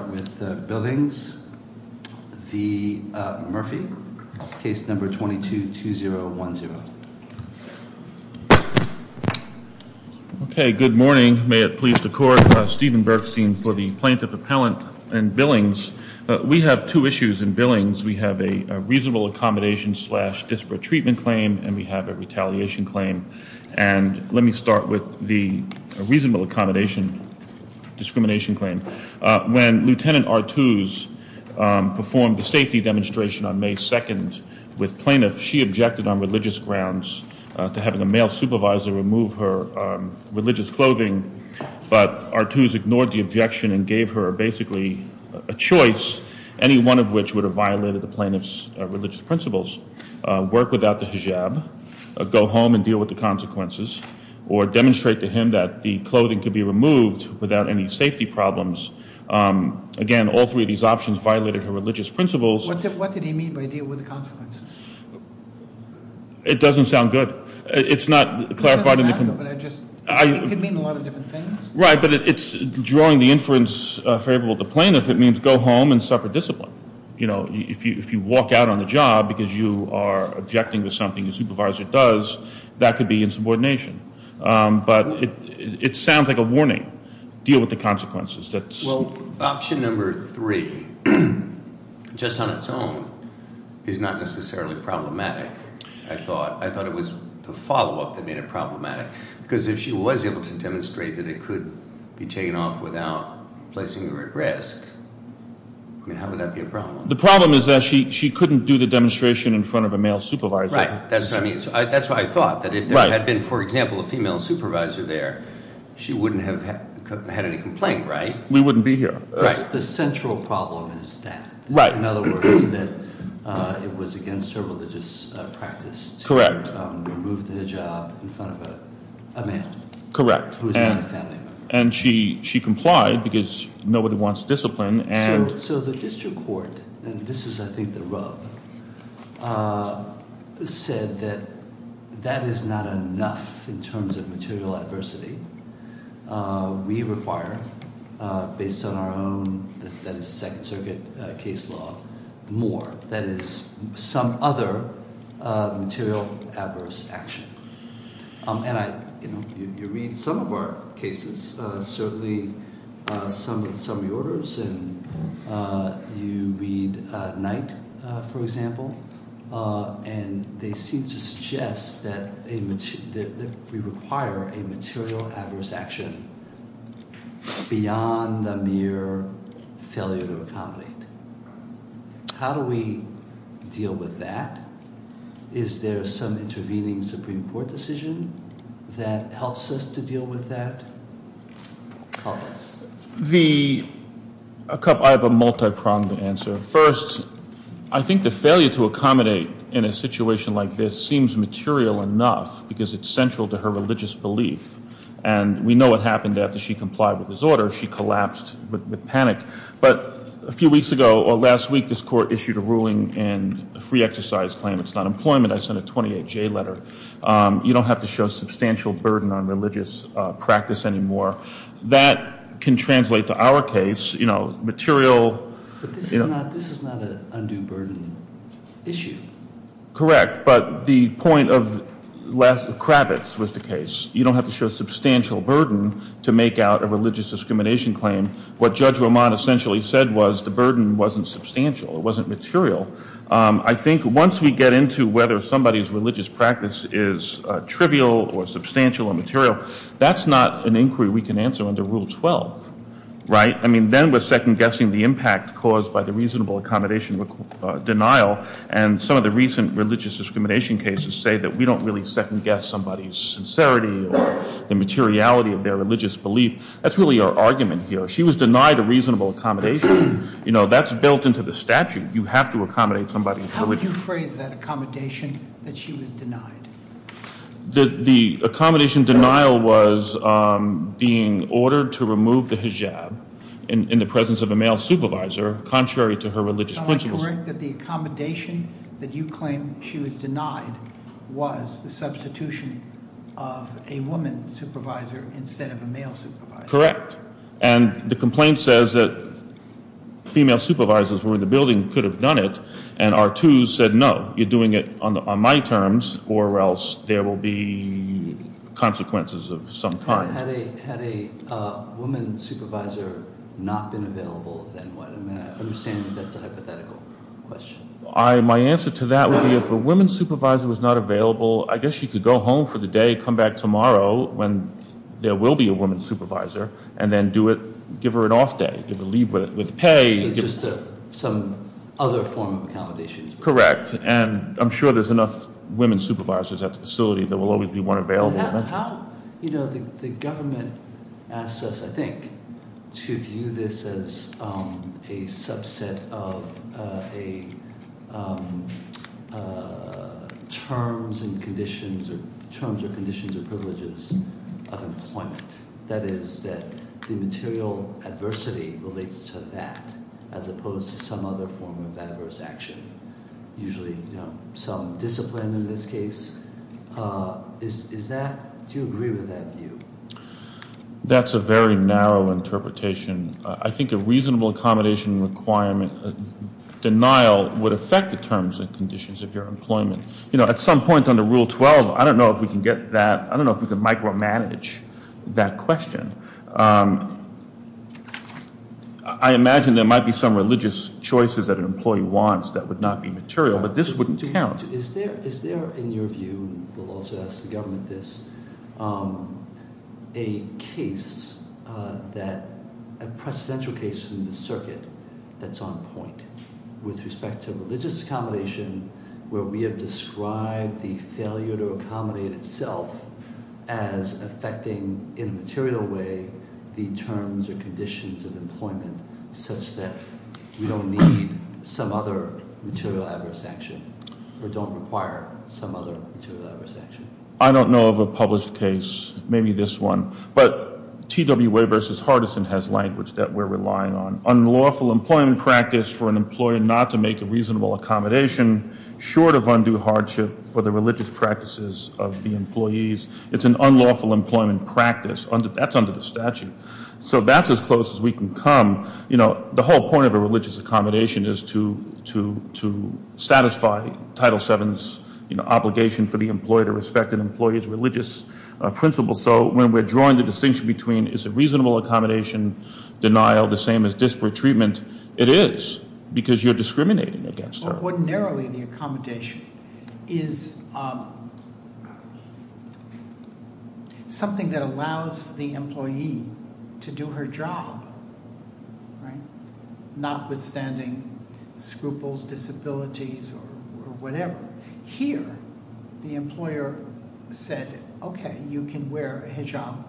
Let me start with Billings v. Murphy, case number 22-2010. Okay, good morning. May it please the court. Stephen Bergstein for the Plaintiff Appellant and Billings. We have two issues in Billings. We have a reasonable accommodation slash disparate treatment claim and we have a retaliation claim. And let me start with the reasonable accommodation discrimination claim. When Lt. Artuse performed the safety demonstration on May 2nd with plaintiffs, she objected on religious grounds to having a male supervisor remove her religious clothing, but Artuse ignored the objection and gave her basically a choice, any one of which would have violated the plaintiff's religious principles, work without the hijab, go home and deal with the consequences, or demonstrate to him that the clothing could be removed without any safety problems. Again, all three of these options violated her religious principles. What did he mean by deal with the consequences? It doesn't sound good. It's not clarified. It could mean a lot of different things. Right, but it's drawing the inference favorable to plaintiffs. It means go home and suffer discipline. If you walk out on the job because you are objecting to something your supervisor does, that could be insubordination. But it sounds like a warning, deal with the consequences. Well, option number three, just on its own, is not necessarily problematic, I thought. I thought it was the follow-up that made it problematic. Because if she was able to demonstrate that it could be taken off without placing her at risk, I mean, how would that be a problem? The problem is that she couldn't do the demonstration in front of a male supervisor. Right, that's what I mean. That's what I thought, that if there had been, for example, a female supervisor there, she wouldn't have had any complaint, right? We wouldn't be here. Right. The central problem is that. Right. In other words, that it was against her religious practice to remove the hijab in front of a man. Correct. Who is not a family member. And she complied because nobody wants discipline. So the district court, and this is, I think, the rub, said that that is not enough in terms of material adversity. We require, based on our own, that is, Second Circuit case law, more. That is, some other material adverse action. And you read some of our cases, certainly some of the orders, and you read Knight, for example, and they seem to suggest that we require a material adverse action beyond the mere failure to accommodate. How do we deal with that? Is there some intervening Supreme Court decision that helps us to deal with that? Collins. I have a multi-pronged answer. First, I think the failure to accommodate in a situation like this seems material enough because it's central to her religious belief. And we know what happened after she complied with his order. She collapsed with panic. But a few weeks ago, or last week, this court issued a ruling and a free exercise claim. It's not employment. I sent a 28-J letter. You don't have to show substantial burden on religious practice anymore. That can translate to our case, you know, material. But this is not an undue burden issue. Correct. But the point of Kravitz was the case. You don't have to show substantial burden to make out a religious discrimination claim. What Judge Roman essentially said was the burden wasn't substantial. It wasn't material. I think once we get into whether somebody's religious practice is trivial or substantial or material, that's not an inquiry we can answer under Rule 12. Right? I mean, then we're second-guessing the impact caused by the reasonable accommodation denial. And some of the recent religious discrimination cases say that we don't really second-guess somebody's sincerity or the materiality of their religious belief. That's really our argument here. She was denied a reasonable accommodation. You know, that's built into the statute. You have to accommodate somebody's religious belief. How would you phrase that accommodation that she was denied? The accommodation denial was being ordered to remove the hijab in the presence of a male supervisor, contrary to her religious principles. Correct, that the accommodation that you claim she was denied was the substitution of a woman supervisor instead of a male supervisor. Correct. And the complaint says that female supervisors who were in the building could have done it. And R2 said, no, you're doing it on my terms or else there will be consequences of some kind. Had a woman supervisor not been available, then what? I mean, I understand that that's a hypothetical question. My answer to that would be if a woman supervisor was not available, I guess she could go home for the day, come back tomorrow when there will be a woman supervisor, and then give her an off day, give her leave with pay. So it's just some other form of accommodation. Correct. And I'm sure there's enough women supervisors at the facility. There will always be one available. The government asks us, I think, to view this as a subset of terms and conditions or terms or conditions or privileges of employment. That is that the material adversity relates to that as opposed to some other form of adverse action, usually some discipline in this case. Do you agree with that view? That's a very narrow interpretation. I think a reasonable accommodation requirement denial would affect the terms and conditions of your employment. At some point under Rule 12, I don't know if we can micromanage that question. I imagine there might be some religious choices that an employee wants that would not be material, but this wouldn't count. Is there, in your view, and we'll also ask the government this, a case that – a precedential case from the circuit that's on point with respect to religious accommodation where we have described the failure to accommodate itself as affecting in a material way the terms or conditions of employment such that we don't need some other material adverse action or don't require some other material adverse action? I don't know of a published case, maybe this one. But TWA versus Hardison has language that we're relying on. It's an unlawful employment practice for an employer not to make a reasonable accommodation short of undue hardship for the religious practices of the employees. It's an unlawful employment practice. That's under the statute. So that's as close as we can come. You know, the whole point of a religious accommodation is to satisfy Title VII's obligation for the employee to respect an employee's religious principles. So when we're drawing the distinction between is a reasonable accommodation denial the same as disparate treatment, it is because you're discriminating against her. Ordinarily, the accommodation is something that allows the employee to do her job, notwithstanding scruples, disabilities, or whatever. Here, the employer said, okay, you can wear a hijab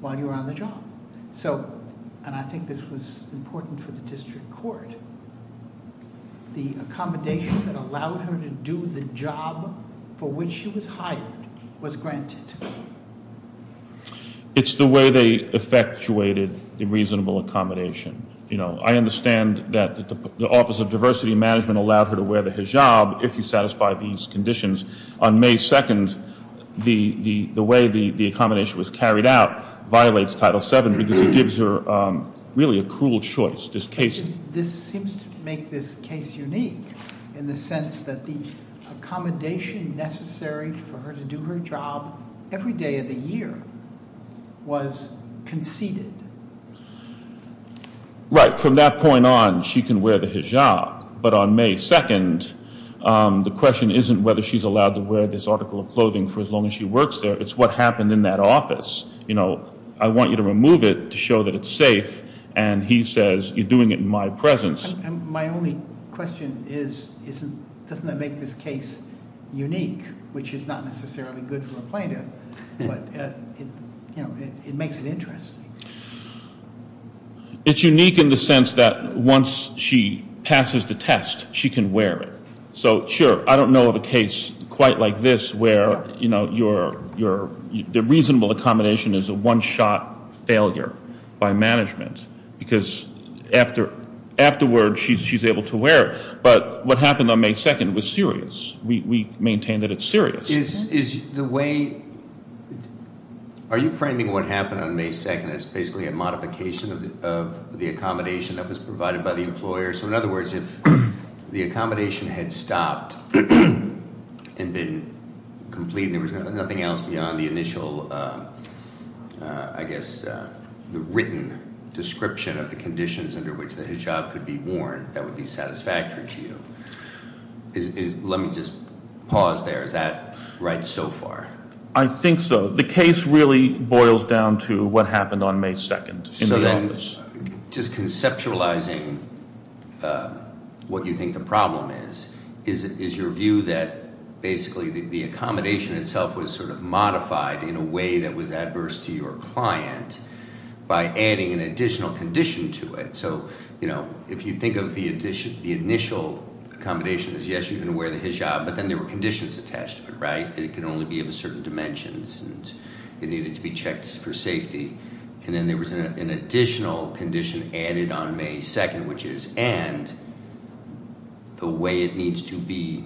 while you're on the job. So, and I think this was important for the district court, the accommodation that allowed her to do the job for which she was hired was granted. It's the way they effectuated the reasonable accommodation. I understand that the Office of Diversity Management allowed her to wear the hijab if you satisfy these conditions. On May 2nd, the way the accommodation was carried out violates Title VII because it gives her really a cruel choice. This seems to make this case unique in the sense that the accommodation necessary for her to do her job every day of the year was conceded. Right. From that point on, she can wear the hijab. But on May 2nd, the question isn't whether she's allowed to wear this article of clothing for as long as she works there. It's what happened in that office. I want you to remove it to show that it's safe, and he says, you're doing it in my presence. My only question is, doesn't that make this case unique? Which is not necessarily good for a plaintiff, but it makes it interesting. It's unique in the sense that once she passes the test, she can wear it. Sure, I don't know of a case quite like this where the reasonable accommodation is a one-shot failure by management. Because afterward, she's able to wear it. But what happened on May 2nd was serious. We maintain that it's serious. Are you framing what happened on May 2nd as basically a modification of the accommodation that was provided by the employer? So in other words, if the accommodation had stopped and been complete, and there was nothing else beyond the initial, I guess, the written description of the conditions under which the hijab could be worn, that would be satisfactory to you. Let me just pause there. Is that right so far? I think so. The case really boils down to what happened on May 2nd in the office. Just conceptualizing what you think the problem is, is your view that basically the accommodation itself was sort of modified in a way that was adverse to your client by adding an additional condition to it? So if you think of the initial accommodation as yes, you can wear the hijab, but then there were conditions attached to it, right? And it can only be of a certain dimensions, and it needed to be checked for safety. And then there was an additional condition added on May 2nd, which is, and the way it needs to be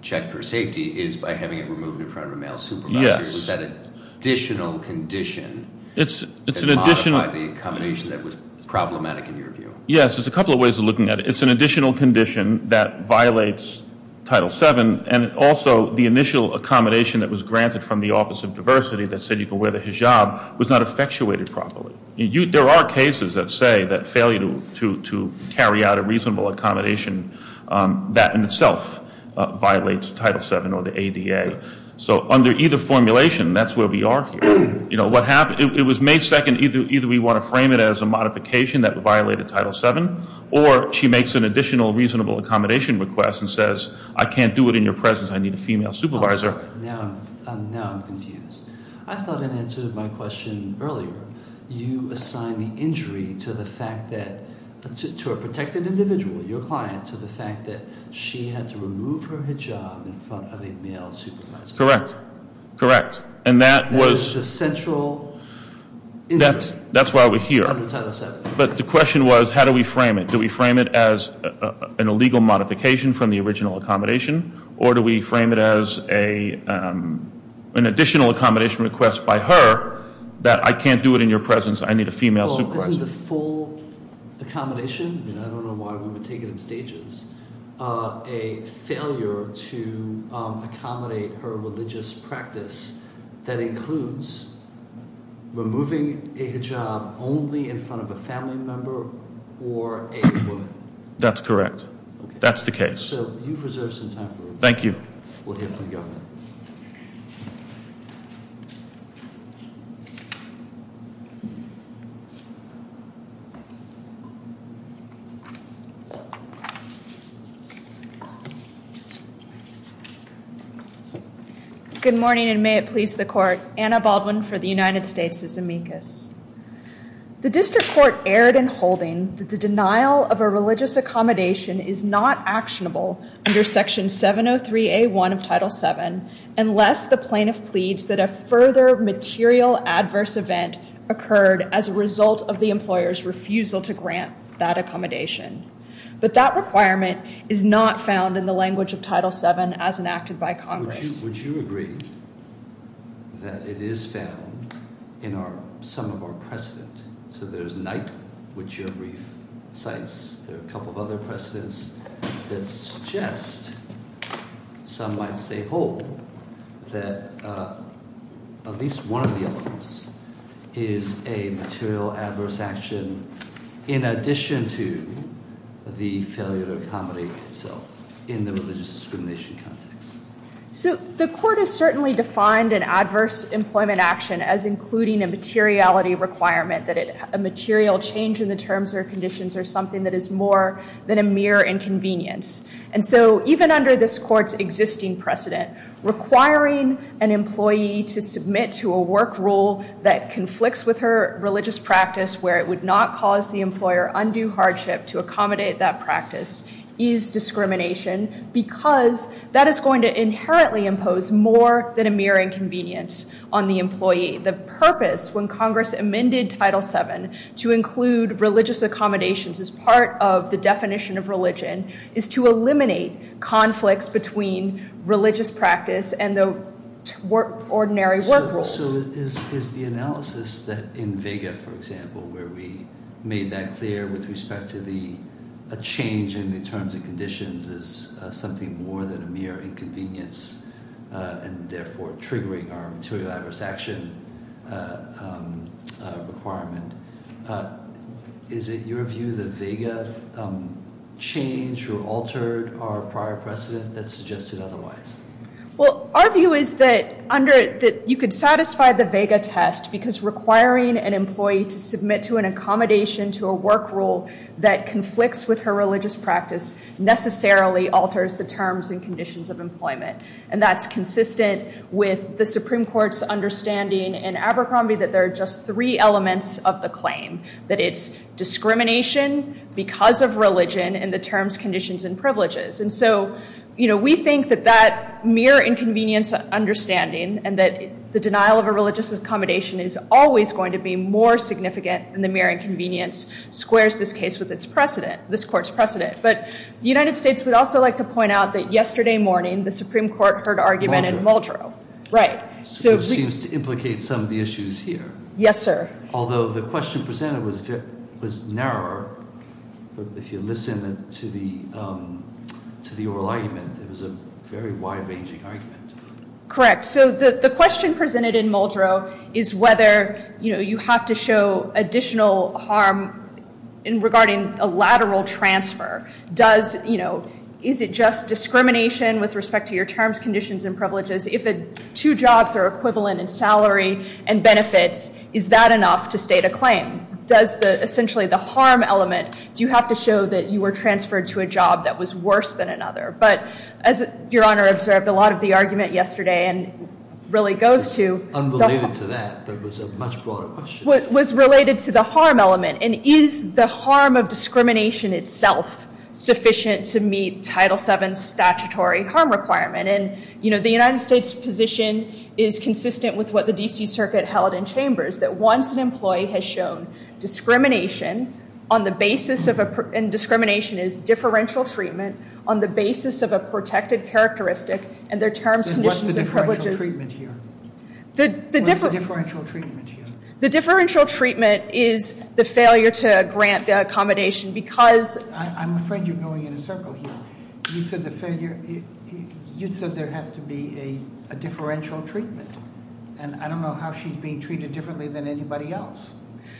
checked for safety is by having it removed in front of a male supervisor. Yes. Is that an additional condition? It's an additional- To modify the accommodation that was problematic in your view. Yes. There's a couple of ways of looking at it. It's an additional condition that violates Title VII, and also the initial accommodation that was granted from the Office of Diversity that said you could wear the hijab was not effectuated properly. There are cases that say that failure to carry out a reasonable accommodation, that in itself violates Title VII or the ADA. So under either formulation, that's where we are here. It was May 2nd. Either we want to frame it as a modification that violated Title VII, or she makes an additional reasonable accommodation request and says, I can't do it in your presence, I need a female supervisor. Now I'm confused. I thought in answer to my question earlier, you assigned the injury to the fact that, to a protected individual, your client, to the fact that she had to remove her hijab in front of a male supervisor. Correct. Correct. And that was- That was just central interest. That's why we're here. Under Title VII. But the question was, how do we frame it? Do we frame it as an illegal modification from the original accommodation, or do we frame it as an additional accommodation request by her that I can't do it in your presence, I need a female supervisor? Well, isn't the full accommodation, and I don't know why we would take it in stages, a failure to accommodate her religious practice that includes removing a hijab only in front of a family member or a woman? That's correct. That's the case. So you've reserved some time for us. We'll hear from the governor. Good morning, and may it please the court. Anna Baldwin for the United States' Amicus. The district court erred in holding that the denial of a religious accommodation is not actionable under Section 703A1 of Title VII unless the plaintiff pleads that a further material adverse event occurred as a result of the employer's refusal to grant that accommodation. But that requirement is not found in the language of Title VII as enacted by Congress. Would you agree that it is found in some of our precedent? So there's night, which your brief cites, there are a couple of other precedents that suggest, some might say whole, that at least one of the elements is a material adverse action in addition to the failure to accommodate itself in the religious discrimination context. So the court has certainly defined an adverse employment action as including a materiality requirement, that a material change in the terms or conditions are something that is more than a mere inconvenience. And so even under this court's existing precedent, requiring an employee to submit to a work rule that conflicts with her religious practice where it would not cause the employer undue hardship to accommodate that practice is discrimination because that is going to inherently impose more than a mere inconvenience on the employee. The purpose when Congress amended Title VII to include religious accommodations as part of the definition of religion is to eliminate conflicts between religious practice and the ordinary work rules. So is the analysis in Vega, for example, where we made that clear with respect to the change in the terms and conditions is something more than a mere inconvenience and therefore triggering our material adverse action requirement. Is it your view that Vega changed or altered our prior precedent that suggested otherwise? Well, our view is that you could satisfy the Vega test because requiring an employee to submit to an accommodation to a work rule that conflicts with her religious practice necessarily alters the terms and conditions of employment. And that's consistent with the Supreme Court's understanding in Abercrombie that there are just three elements of the claim. That it's discrimination because of religion and the terms, conditions, and privileges. And so we think that that mere inconvenience understanding and that the denial of a religious accommodation is always going to be more significant than the mere inconvenience squares this case with its precedent, this court's precedent. But the United States would also like to point out that yesterday morning the Supreme Court heard argument in Muldrow. Muldrow. Right. Seems to implicate some of the issues here. Yes, sir. Although the question presented was narrower. If you listen to the oral argument, it was a very wide-ranging argument. Correct. So the question presented in Muldrow is whether you have to show additional harm regarding a lateral transfer. Is it just discrimination with respect to your terms, conditions, and privileges? If two jobs are equivalent in salary and benefits, is that enough to state a claim? Does essentially the harm element, do you have to show that you were transferred to a job that was worse than another? But as Your Honor observed, a lot of the argument yesterday really goes to- Unrelated to that, but it was a much broader question. Was related to the harm element. And is the harm of discrimination itself sufficient to meet Title VII statutory harm requirement? And the United States position is consistent with what the D.C. Circuit held in chambers, that once an employee has shown discrimination, and discrimination is differential treatment, on the basis of a protected characteristic and their terms, conditions, and privileges- Then what's the differential treatment here? What's the differential treatment here? The differential treatment is the failure to grant the accommodation because- I'm afraid you're going in a circle here. You said there has to be a differential treatment. And I don't know how she's being treated differently than anybody else.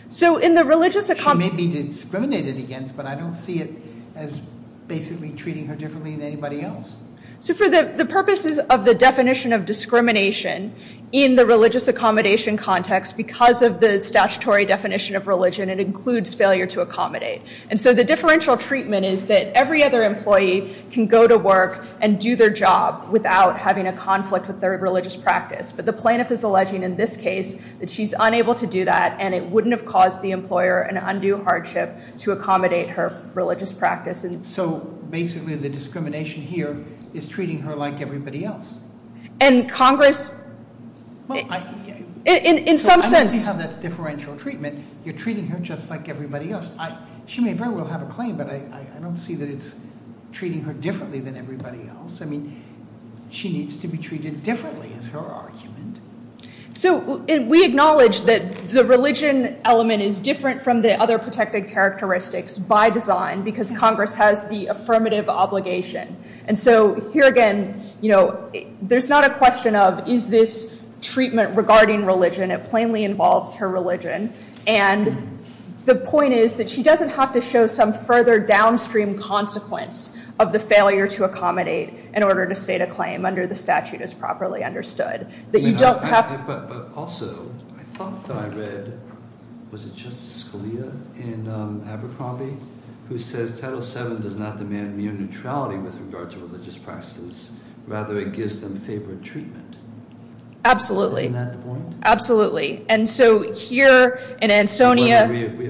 So in the religious- She may be discriminated against, but I don't see it as basically treating her differently than anybody else. So for the purposes of the definition of discrimination in the religious accommodation context, because of the statutory definition of religion, it includes failure to accommodate. And so the differential treatment is that every other employee can go to work and do their job without having a conflict with their religious practice. But the plaintiff is alleging in this case that she's unable to do that, and it wouldn't have caused the employer an undue hardship to accommodate her religious practice. So basically the discrimination here is treating her like everybody else. And Congress- Well, I- In some sense- So I don't see how that's differential treatment. You're treating her just like everybody else. She may very well have a claim, but I don't see that it's treating her differently than everybody else. I mean, she needs to be treated differently is her argument. So we acknowledge that the religion element is different from the other protected characteristics by design because Congress has the affirmative obligation. And so here again, you know, there's not a question of is this treatment regarding religion. It plainly involves her religion. And the point is that she doesn't have to show some further downstream consequence of the failure to accommodate in order to state a claim under the statute as properly understood. That you don't have- But also I thought that I read, was it Justice Scalia in Abercrombie, who says Title VII does not demand mere neutrality with regard to religious practices. Rather it gives them favored treatment. Absolutely. Isn't that the point? Absolutely. And so here in Ansonia-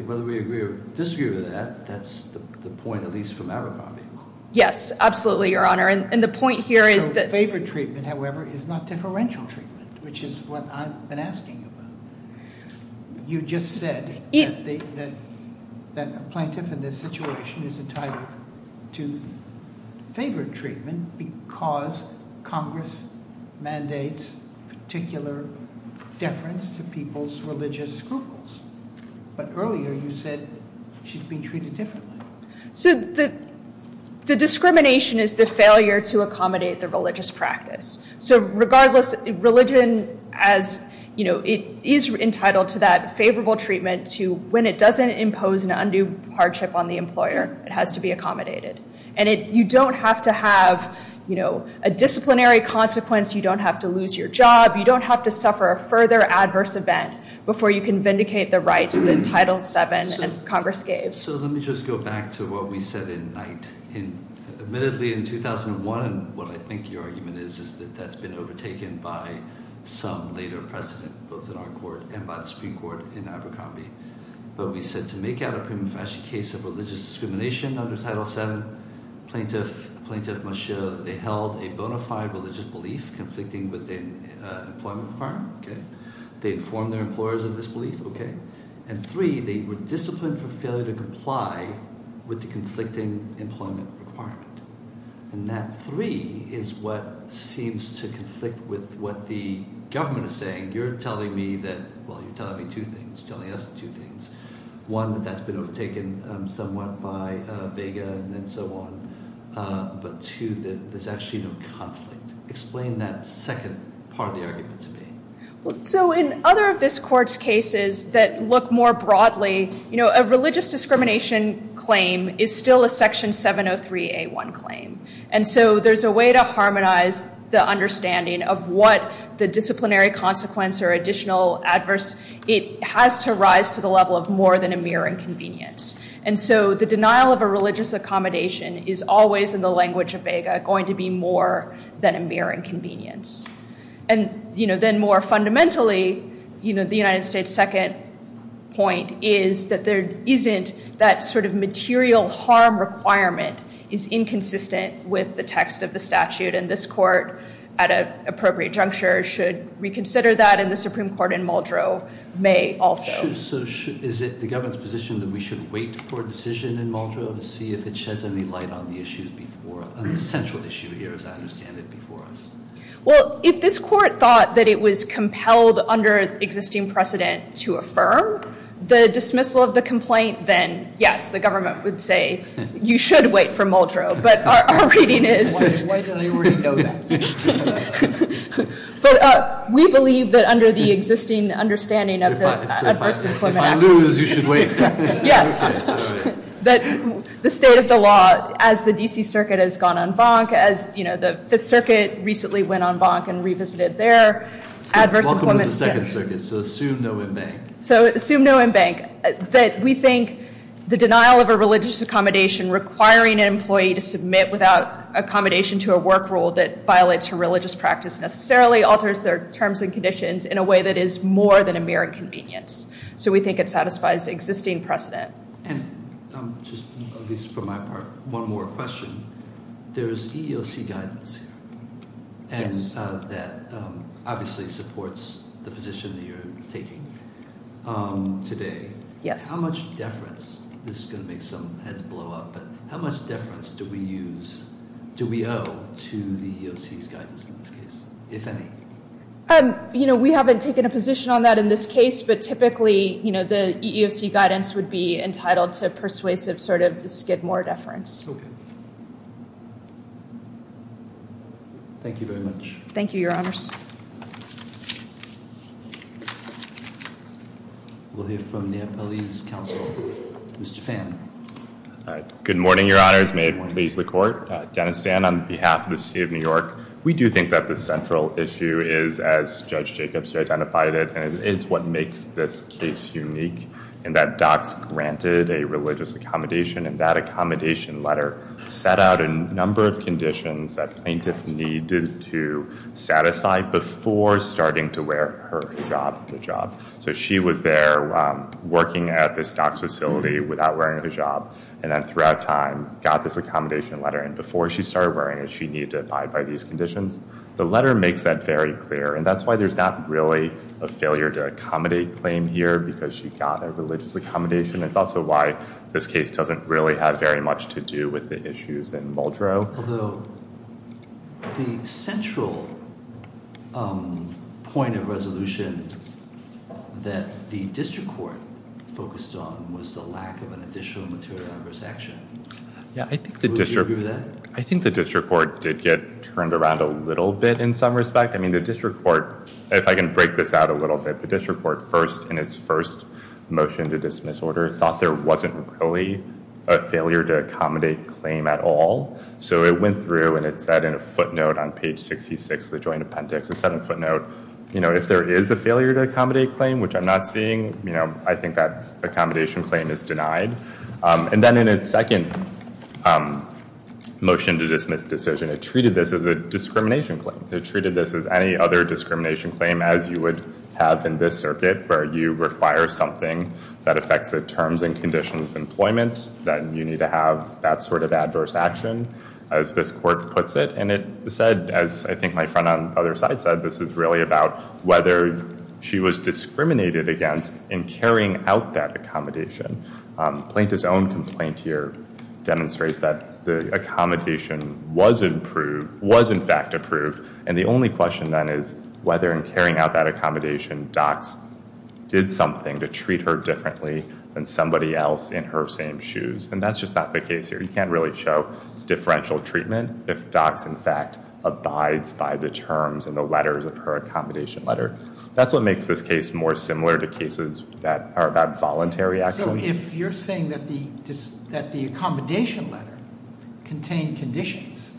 Whether we agree or disagree with that, that's the point at least from Abercrombie. Yes, absolutely, Your Honor. And the point here is that- So favored treatment, however, is not differential treatment, which is what I've been asking about. You just said that a plaintiff in this situation is entitled to favored treatment because Congress mandates particular deference to people's religious scruples. But earlier you said she's being treated differently. So the discrimination is the failure to accommodate the religious practice. So regardless, religion as, you know, it is entitled to that favorable treatment to when it doesn't impose an undue hardship on the employer, it has to be accommodated. And you don't have to have, you know, a disciplinary consequence. You don't have to lose your job. You don't have to suffer a further adverse event before you can vindicate the rights that Title VII and Congress gave. So let me just go back to what we said in Knight. Admittedly in 2001, what I think your argument is, is that that's been overtaken by some later precedent, both in our court and by the Supreme Court in Abercrombie. But we said to make out a prima facie case of religious discrimination under Title VII, a plaintiff must show that they held a bona fide religious belief conflicting with their employment requirement. They informed their employers of this belief. And three, they were disciplined for failure to comply with the conflicting employment requirement. And that three is what seems to conflict with what the government is saying. You're telling me that, well, you're telling me two things, telling us two things. One, that that's been overtaken somewhat by Vega and so on. But two, that there's actually no conflict. Explain that second part of the argument to me. So in other of this court's cases that look more broadly, you know, a religious discrimination claim is still a Section 703A1 claim. And so there's a way to harmonize the understanding of what the disciplinary consequence or additional adverse, it has to rise to the level of more than a mere inconvenience. And so the denial of a religious accommodation is always in the language of Vega going to be more than a mere inconvenience. And, you know, then more fundamentally, you know, The United States' second point is that there isn't that sort of material harm requirement is inconsistent with the text of the statute. And this court, at an appropriate juncture, should reconsider that. And the Supreme Court in Muldrow may also. So is it the government's position that we should wait for a decision in Muldrow to see if it sheds any light on the issues before, on the central issue here, as I understand it, before us? Well, if this court thought that it was compelled under existing precedent to affirm the dismissal of the complaint, then, yes, the government would say you should wait for Muldrow. But our reading is... Why do they already know that? But we believe that under the existing understanding of the Adverse Employment Act... If I lose, you should wait. Yes. That the state of the law, as the D.C. Circuit has gone on bonk, as, you know, the Fifth Circuit recently went on bonk and revisited their adverse employment... Welcome to the Second Circuit, so assume no embank. So assume no embank. That we think the denial of a religious accommodation requiring an employee to submit without accommodation to a work rule that violates her religious practice necessarily alters their terms and conditions in a way that is more than a mere inconvenience. So we think it satisfies existing precedent. And just, at least for my part, one more question. There's EEOC guidance here. Yes. And that obviously supports the position that you're taking today. Yes. How much deference... This is going to make some heads blow up, but how much deference do we use... Do we owe to the EEOC's guidance in this case, if any? You know, we haven't taken a position on that in this case, but typically, you know, the EEOC guidance would be entitled to persuasive sort of skid more deference. Okay. Thank you very much. Thank you, Your Honors. We'll hear from the Appellee's counsel. Mr. Fan. Good morning, Your Honors. May it please the Court. Dennis Fan on behalf of the State of New York. We do think that the central issue is, as Judge Jacobs identified it, and it is what makes this case unique, in that Docs granted a religious accommodation, and that accommodation letter set out a number of conditions that plaintiff needed to satisfy before starting to wear her hijab at the job. So she was there working at this Docs facility without wearing a hijab, and then throughout time got this accommodation letter, and before she started wearing it, she needed to abide by these conditions. The letter makes that very clear, and that's why there's not really a failure to accommodate claim here, because she got a religious accommodation. It's also why this case doesn't really have very much to do with the issues in Muldrow. Although the central point of resolution that the district court focused on was the lack of an additional material adverse action. Yeah, I think the district court did get turned around a little bit in some respect. I mean, the district court, if I can break this out a little bit, the district court first, in its first motion to dismiss order, thought there wasn't really a failure to accommodate claim at all. So it went through, and it said in a footnote on page 66 of the joint appendix, it said in a footnote, you know, if there is a failure to accommodate claim, which I'm not seeing, you know, I think that accommodation claim is denied. And then in its second motion to dismiss decision, it treated this as a discrimination claim. It treated this as any other discrimination claim as you would have in this circuit, where you require something that affects the terms and conditions of employment, then you need to have that sort of adverse action, as this court puts it. And it said, as I think my friend on the other side said, this is really about whether she was discriminated against in carrying out that accommodation. Plaintiff's own complaint here demonstrates that the accommodation was in fact approved, and the only question then is whether in carrying out that accommodation, docs did something to treat her differently than somebody else in her same shoes. And that's just not the case here. You can't really show differential treatment if docs, in fact, abides by the terms and the letters of her accommodation letter. That's what makes this case more similar to cases that are about voluntary action. So if you're saying that the accommodation letter contained conditions,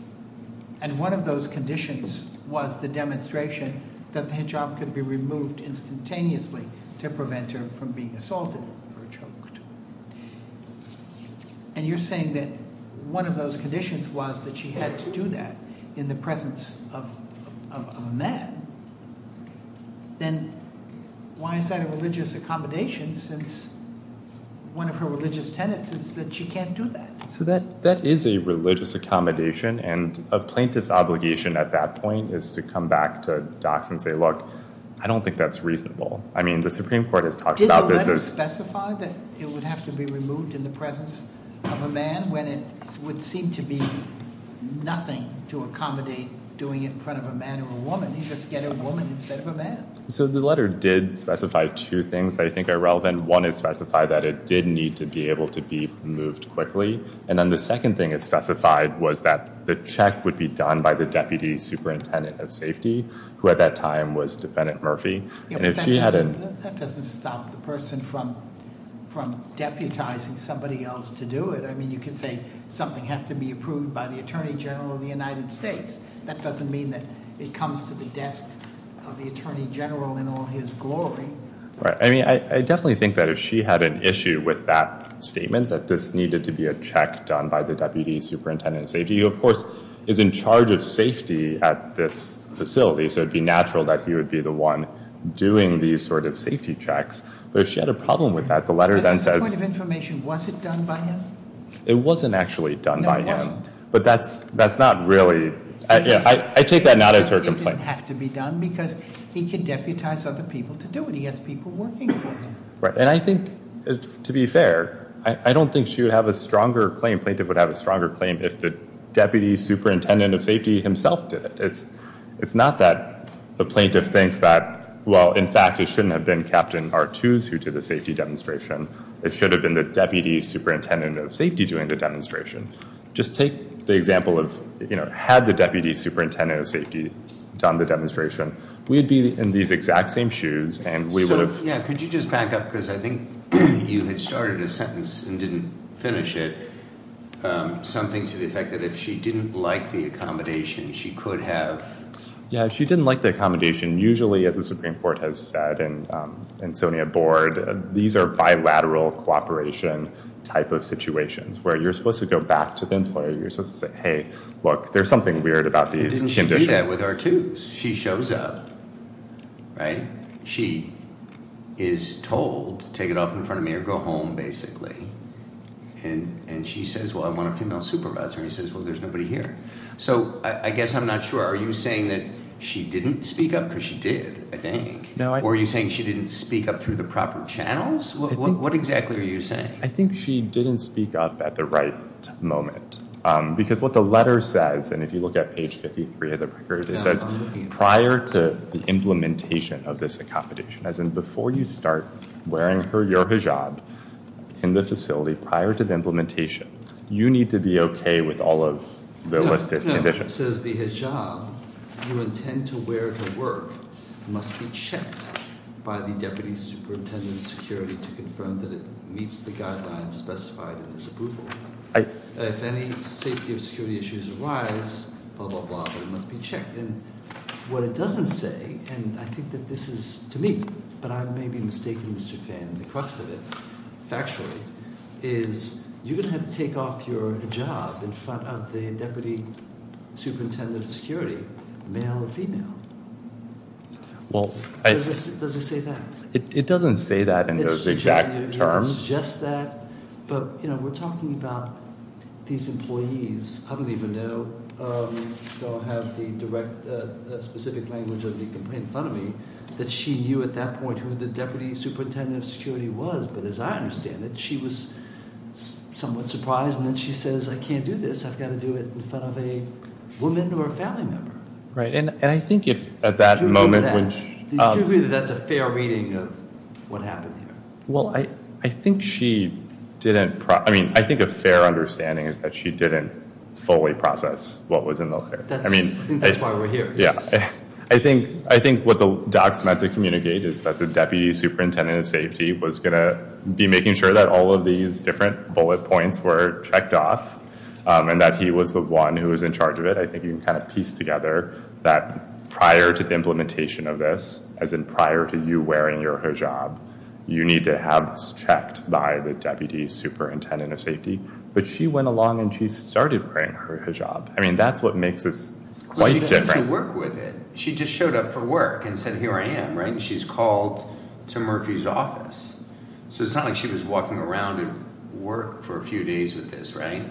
and one of those conditions was the demonstration that the hijab could be removed instantaneously to prevent her from being assaulted or choked, and you're saying that one of those conditions was that she had to do that in the presence of a man, then why is that a religious accommodation since one of her religious tenets is that she can't do that? So that is a religious accommodation, and a plaintiff's obligation at that point is to come back to docs and say, look, I don't think that's reasonable. I mean, the Supreme Court has talked about this as- Did the letter specify that it would have to be removed in the presence of a man when it would seem to be nothing to accommodate doing it in front of a man or a woman? You just get a woman instead of a man. So the letter did specify two things that I think are relevant. One, it specified that it did need to be able to be removed quickly, and then the second thing it specified was that the check would be done by the Deputy Superintendent of Safety, who at that time was Defendant Murphy, and if she hadn't- That doesn't stop the person from deputizing somebody else to do it. I mean, you could say something has to be approved by the Attorney General of the United States. That doesn't mean that it comes to the desk of the Attorney General in all his glory. Right. I mean, I definitely think that if she had an issue with that statement, that this needed to be a check done by the Deputy Superintendent of Safety, who, of course, is in charge of safety at this facility, so it would be natural that he would be the one doing these sort of safety checks. But if she had a problem with that, the letter then says- But as a point of information, was it done by him? It wasn't actually done by him. No, it wasn't. But that's not really- I take that not as her complaint. It didn't have to be done because he could deputize other people to do it. He has people working for him. Right. And I think, to be fair, I don't think she would have a stronger claim, plaintiff would have a stronger claim, if the Deputy Superintendent of Safety himself did it. It's not that the plaintiff thinks that, well, in fact, it shouldn't have been Captain Artuse who did the safety demonstration. It should have been the Deputy Superintendent of Safety doing the demonstration. Just take the example of, you know, had the Deputy Superintendent of Safety done the demonstration, we'd be in these exact same shoes, and we would have- So, yeah, could you just back up? Because I think you had started a sentence and didn't finish it. Something to the effect that if she didn't like the accommodation, she could have- Yeah, if she didn't like the accommodation, usually, as the Supreme Court has said and SONIA Board, these are bilateral cooperation type of situations where you're supposed to go back to the employer. You're supposed to say, hey, look, there's something weird about these conditions. Didn't she do that with Artuse? She shows up, right? She is told to take it off in front of me or go home, basically. And she says, well, I want a female supervisor. And he says, well, there's nobody here. So I guess I'm not sure. Are you saying that she didn't speak up? Because she did, I think. Or are you saying she didn't speak up through the proper channels? What exactly are you saying? I think she didn't speak up at the right moment. Because what the letter says, and if you look at page 53 of the record, it says prior to the implementation of this accommodation, as in before you start wearing your hijab in the facility, prior to the implementation, you need to be okay with all of the listed conditions. But it says the hijab you intend to wear to work must be checked by the deputy superintendent of security to confirm that it meets the guidelines specified in this approval. If any safety or security issues arise, blah, blah, blah, it must be checked. And what it doesn't say, and I think that this is to me, but I may be mistaken, Mr. Fan, in the crux of it, factually, is you're going to have to take off your hijab in front of the deputy superintendent of security, male or female. Does it say that? It doesn't say that in those exact terms. It suggests that, but we're talking about these employees. I don't even know, so I'll have the specific language of the complaint in front of me, that she knew at that point who the deputy superintendent of security was. But as I understand it, she was somewhat surprised. And then she says, I can't do this. I've got to do it in front of a woman or a family member. Right. And I think if at that moment... Do you agree that that's a fair reading of what happened here? Well, I think she didn't... I mean, I think a fair understanding is that she didn't fully process what was in the... I think that's why we're here. I think what the docs meant to communicate is that the deputy superintendent of safety was going to be making sure that all of these different bullet points were checked off, and that he was the one who was in charge of it. I think you can kind of piece together that prior to the implementation of this, as in prior to you wearing your hijab, you need to have this checked by the deputy superintendent of safety. But she went along and she started wearing her hijab. I mean, that's what makes this quite different. She went to work with it. She just showed up for work and said, here I am, right? And she's called to Murphy's office. So it's not like she was walking around at work for a few days with this, right?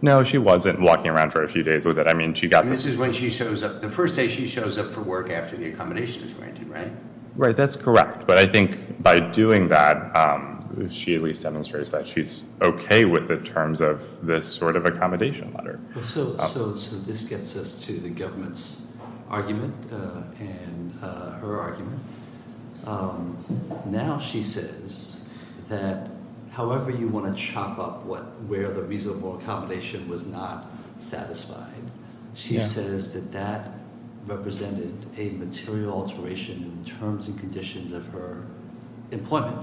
No, she wasn't walking around for a few days with it. I mean, she got the... And this is when she shows up... The first day she shows up for work after the accommodation is granted, right? Right, that's correct. But I think by doing that, she at least demonstrates that she's okay with the terms of this sort of accommodation letter. So this gets us to the government's argument and her argument. Now she says that however you want to chop up where the reasonable accommodation was not satisfied, she says that that represented a material alteration in terms and conditions of her employment,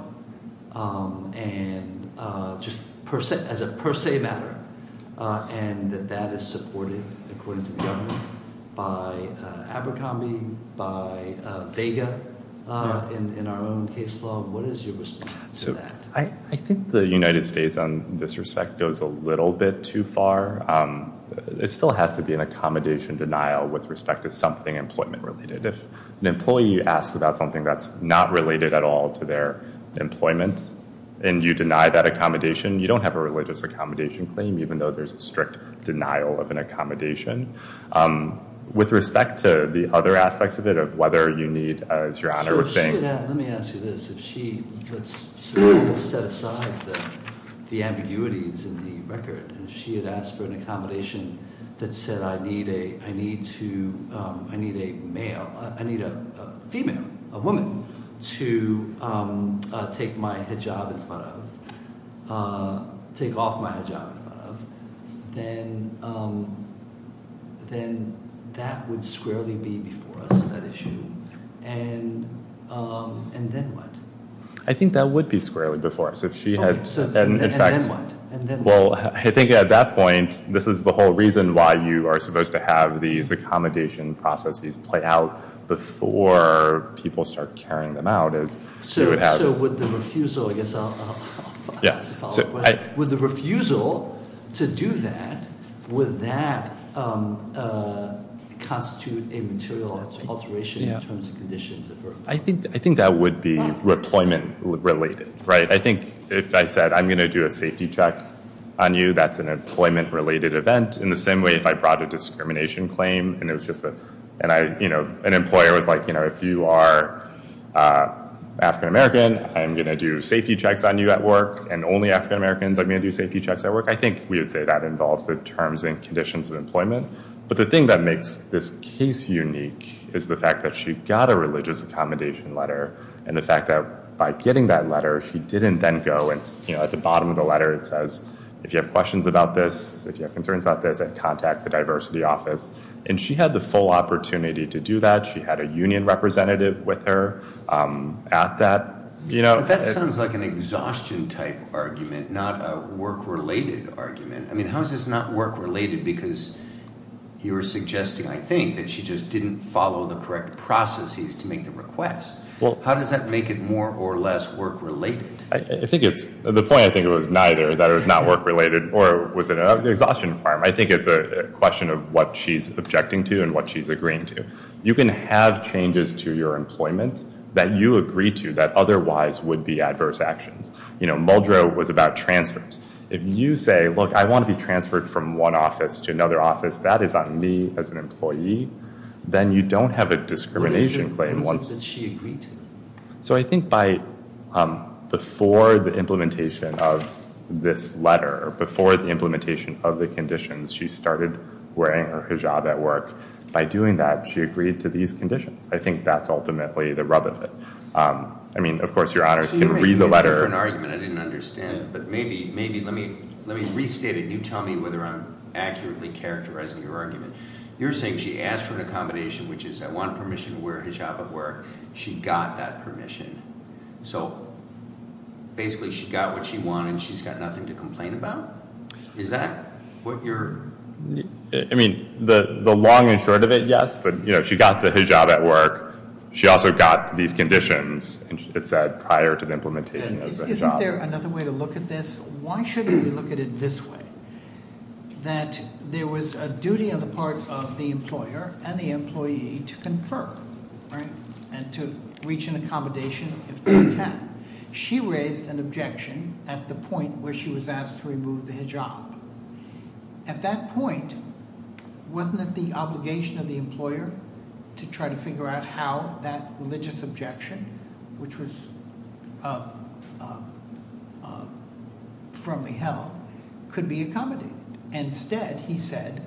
and just as a per se matter, and that that is supported, according to the government, by Abercrombie, by Vega in our own case law. What is your response to that? I think the United States on this respect goes a little bit too far. It still has to be an accommodation denial with respect to something employment related. If an employee asks about something that's not related at all to their employment, and you deny that accommodation, you don't have a religious accommodation claim, even though there's a strict denial of an accommodation. With respect to the other aspects of it, of whether you need, as Your Honor was saying... Let me ask you this. If she had set aside the ambiguities in the record, and she had asked for an accommodation that said I need a male, I need a female, a woman, to take my hijab in front of, take off my hijab in front of, then that would squarely be before us, that issue. And then what? I think that would be squarely before us. And then what? Well, I think at that point, this is the whole reason why you are supposed to have these accommodation processes play out before people start carrying them out. So would the refusal, I guess I'll follow up. Would the refusal to do that, would that constitute a material alteration in terms of conditions? I think that would be employment related. I think if I said I'm going to do a safety check on you, that's an employment related event. In the same way, if I brought a discrimination claim, and it was just an employer was like, if you are African American, I'm going to do safety checks on you at work, and only African Americans are going to do safety checks at work, I think we would say that involves the terms and conditions of employment. But the thing that makes this case unique is the fact that she got a religious accommodation letter, and the fact that by getting that letter, she didn't then go and at the bottom of the letter it says, if you have questions about this, if you have concerns about this, contact the diversity office. And she had the full opportunity to do that. She had a union representative with her at that. That sounds like an exhaustion type argument, not a work related argument. I mean, how is this not work related? Because you were suggesting, I think, that she just didn't follow the correct processes to make the request. How does that make it more or less work related? The point, I think, was neither, that it was not work related or was it an exhaustion requirement. I think it's a question of what she's objecting to and what she's agreeing to. You can have changes to your employment that you agree to that otherwise would be adverse actions. You know, Muldrow was about transfers. If you say, look, I want to be transferred from one office to another office, that is on me as an employee, then you don't have a discrimination claim. What is it that she agreed to? So I think before the implementation of this letter, before the implementation of the conditions, she started wearing her hijab at work. By doing that, she agreed to these conditions. I think that's ultimately the rub of it. I mean, of course, your honors can read the letter. So you're making a different argument. I didn't understand it. But maybe, let me restate it. You tell me whether I'm accurately characterizing your argument. You're saying she asked for an accommodation, which is I want permission to wear a hijab at work. She got that permission. So, basically, she got what she wanted and she's got nothing to complain about? Is that what you're? I mean, the long and short of it, yes. But, you know, she got the hijab at work. She also got these conditions, it said, prior to the implementation of the hijab. Isn't there another way to look at this? Why shouldn't we look at it this way? That there was a duty on the part of the employer and the employee to confer and to reach an accommodation if they can. She raised an objection at the point where she was asked to remove the hijab. At that point, wasn't it the obligation of the employer to try to figure out how that religious objection, which was firmly held, could be accommodated? Instead, he said,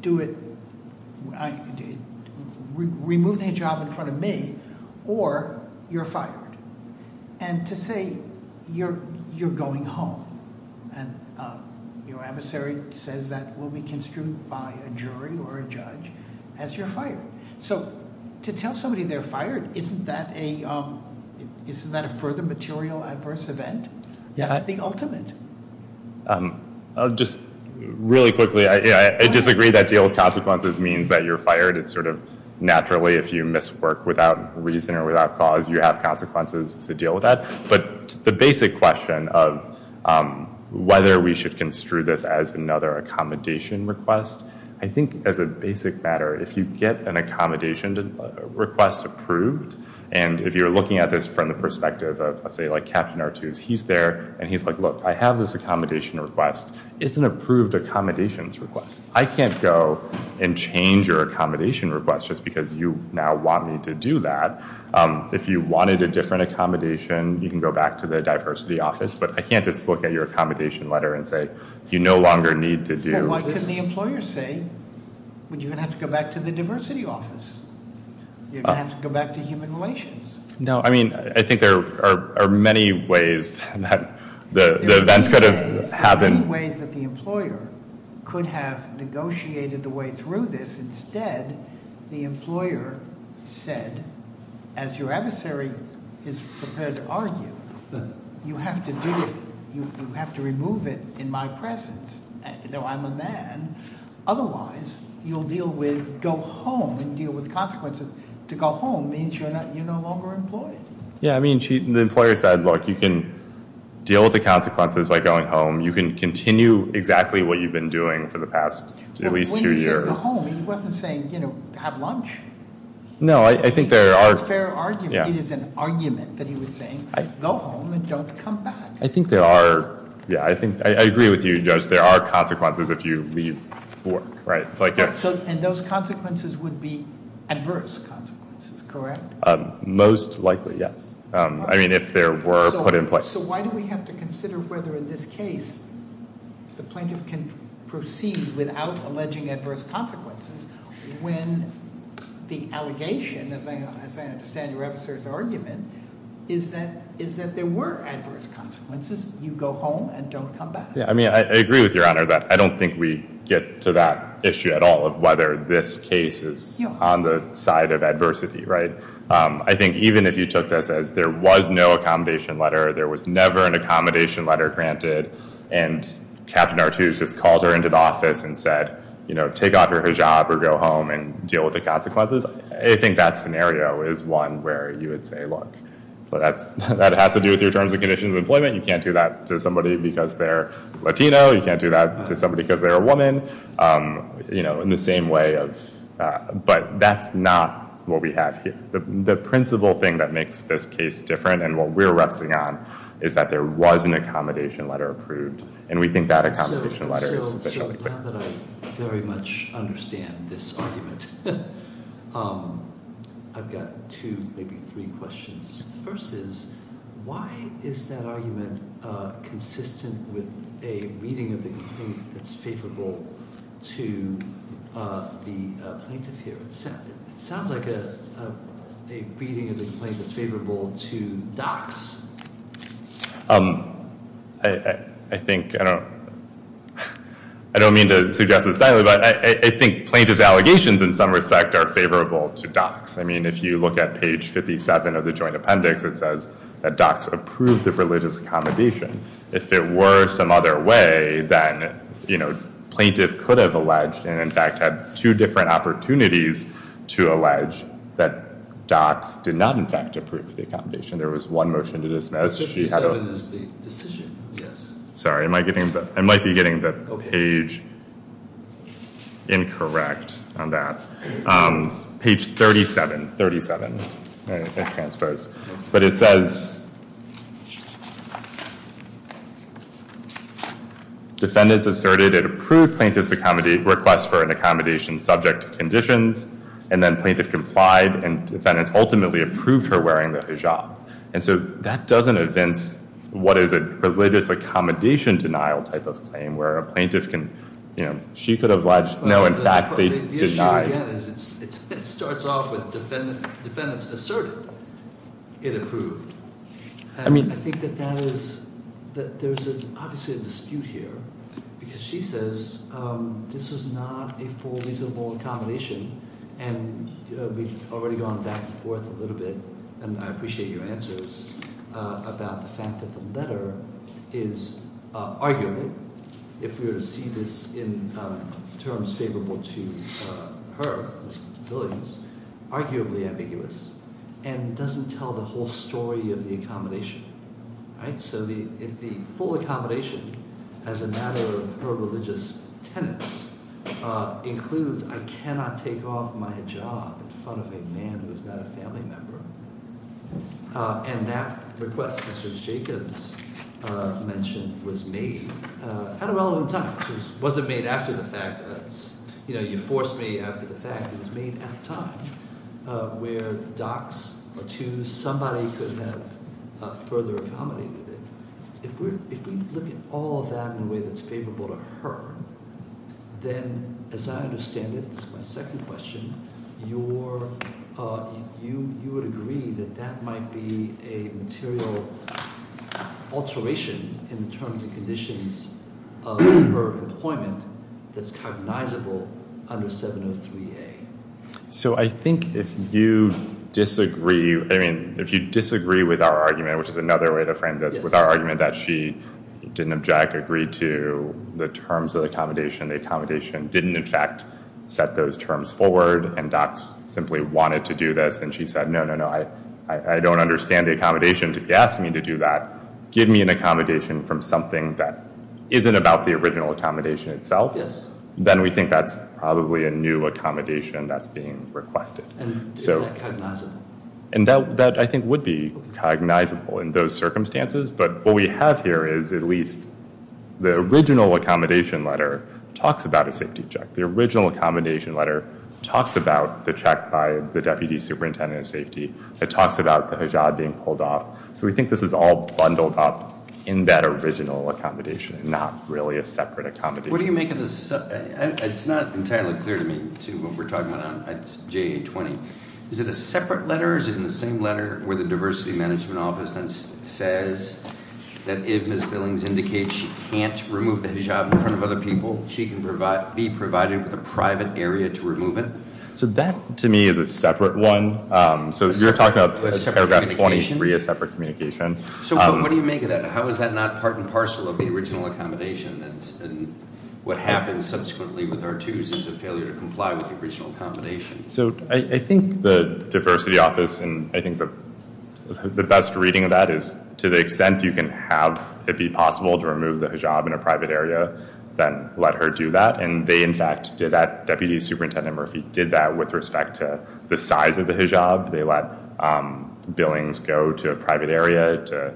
do it, remove the hijab in front of me or you're fired. And to say, you're going home and your adversary says that will be construed by a jury or a judge as you're fired. So, to tell somebody they're fired, isn't that a further material adverse event? That's the ultimate. Just really quickly, I disagree that deal with consequences means that you're fired. It's sort of naturally, if you miss work without reason or without cause, you have consequences to deal with that. But the basic question of whether we should construe this as another accommodation request, I think as a basic matter, if you get an accommodation request approved, and if you're looking at this from the perspective of, say, Captain Artuse, he's there and he's like, look, I have this accommodation request. It's an approved accommodations request. I can't go and change your accommodation request just because you now want me to do that. If you wanted a different accommodation, you can go back to the diversity office. But I can't just look at your accommodation letter and say, you no longer need to do this. Well, what can the employer say when you're going to have to go back to the diversity office? You're going to have to go back to human relations. No, I mean, I think there are many ways that the events could have happened. There are many ways that the employer could have negotiated the way through this. Instead, the employer said, as your adversary is prepared to argue, you have to do it. You have to remove it in my presence, though I'm a man. Otherwise, you'll deal with, go home and deal with consequences. To go home means you're no longer employed. Yeah, I mean, the employer said, look, you can deal with the consequences by going home. You can continue exactly what you've been doing for the past at least two years. When he said go home, he wasn't saying have lunch. No, I think there are- It's a fair argument. It is an argument that he was saying, go home and don't come back. I think there are, yeah, I agree with you, Judge. There are consequences if you leave work, right? And those consequences would be adverse consequences, correct? Most likely, yes. I mean, if there were put in place. So why do we have to consider whether in this case the plaintiff can proceed without alleging adverse consequences when the allegation, as I understand your adversary's argument, is that there were adverse consequences. You go home and don't come back. Yeah, I mean, I agree with Your Honor that I don't think we get to that issue at all of whether this case is on the side of adversity, right? I think even if you took this as there was no accommodation letter, there was never an accommodation letter granted, and Captain Artuse just called her into the office and said, you know, take off your hijab or go home and deal with the consequences, I think that scenario is one where you would say, look, that has to do with your terms and conditions of employment. You can't do that to somebody because they're Latino. You can't do that to somebody because they're a woman, you know, in the same way of- That's not what we have here. The principal thing that makes this case different and what we're refsing on is that there was an accommodation letter approved, and we think that accommodation letter is- So now that I very much understand this argument, I've got two, maybe three questions. The first is, why is that argument consistent with a reading of the complaint that's favorable to the plaintiff here? It sounds like a reading of the complaint that's favorable to docs. I think- I don't mean to suggest this silently, but I think plaintiff's allegations in some respect are favorable to docs. I mean, if you look at page 57 of the joint appendix, it says that docs approved the religious accommodation. If it were some other way, then, you know, plaintiff could have alleged and in fact had two different opportunities to allege that docs did not in fact approve the accommodation. There was one motion to dismiss. 57 is the decision, yes. Sorry, I might be getting the page incorrect on that. Page 37, 37. It's transposed. But it says defendants asserted and approved plaintiff's request for an accommodation subject to conditions, and then plaintiff complied and defendants ultimately approved her wearing the hijab. And so that doesn't evince what is a religious accommodation denial type of claim where a plaintiff can- The issue again is it starts off with defendants asserted. It approved. I think that that is- that there's obviously a dispute here because she says this is not a full reasonable accommodation, and we've already gone back and forth a little bit, and I appreciate your answers, about the fact that the letter is arguably, if we were to see this in terms favorable to her, arguably ambiguous, and doesn't tell the whole story of the accommodation. So the full accommodation as a matter of her religious tenets includes I cannot take off my hijab in front of a man who is not a family member. And that request, Mr. Jacobs mentioned, was made at a relevant time. It wasn't made after the fact. You know, you forced me after the fact. It was made at a time where docs or two, somebody could have further accommodated it. If we look at all of that in a way that's favorable to her, then as I understand it, this is my second question, you would agree that that might be a material alteration in the terms and conditions of her employment that's cognizable under 703A. So I think if you disagree, I mean, if you disagree with our argument, which is another way to frame this, with our argument that she didn't object, agree to the terms of the accommodation, the accommodation didn't in fact set those terms forward, and docs simply wanted to do this, and she said, no, no, no, I don't understand the accommodation. If you ask me to do that, give me an accommodation from something that isn't about the original accommodation itself, then we think that's probably a new accommodation that's being requested. And is that cognizable? And that I think would be cognizable in those circumstances, but what we have here is at least the original accommodation letter talks about a safety check. The original accommodation letter talks about the check by the deputy superintendent of safety. It talks about the hijab being pulled off. So we think this is all bundled up in that original accommodation and not really a separate accommodation. What do you make of this? It's not entirely clear to me, too, what we're talking about on JA-20. Is it a separate letter? Is it in the same letter where the diversity management office then says that if Ms. Billings indicates she can't remove the hijab in front of other people, she can be provided with a private area to remove it? So that to me is a separate one. So you're talking about paragraph 23, a separate communication. So what do you make of that? How is that not part and parcel of the original accommodation? And what happens subsequently with our twos is a failure to comply with the original accommodation. So I think the diversity office and I think the best reading of that is to the extent you can have it be possible to remove the hijab in a private area, then let her do that. And they, in fact, did that. Deputy Superintendent Murphy did that with respect to the size of the hijab. They let Billings go to a private area to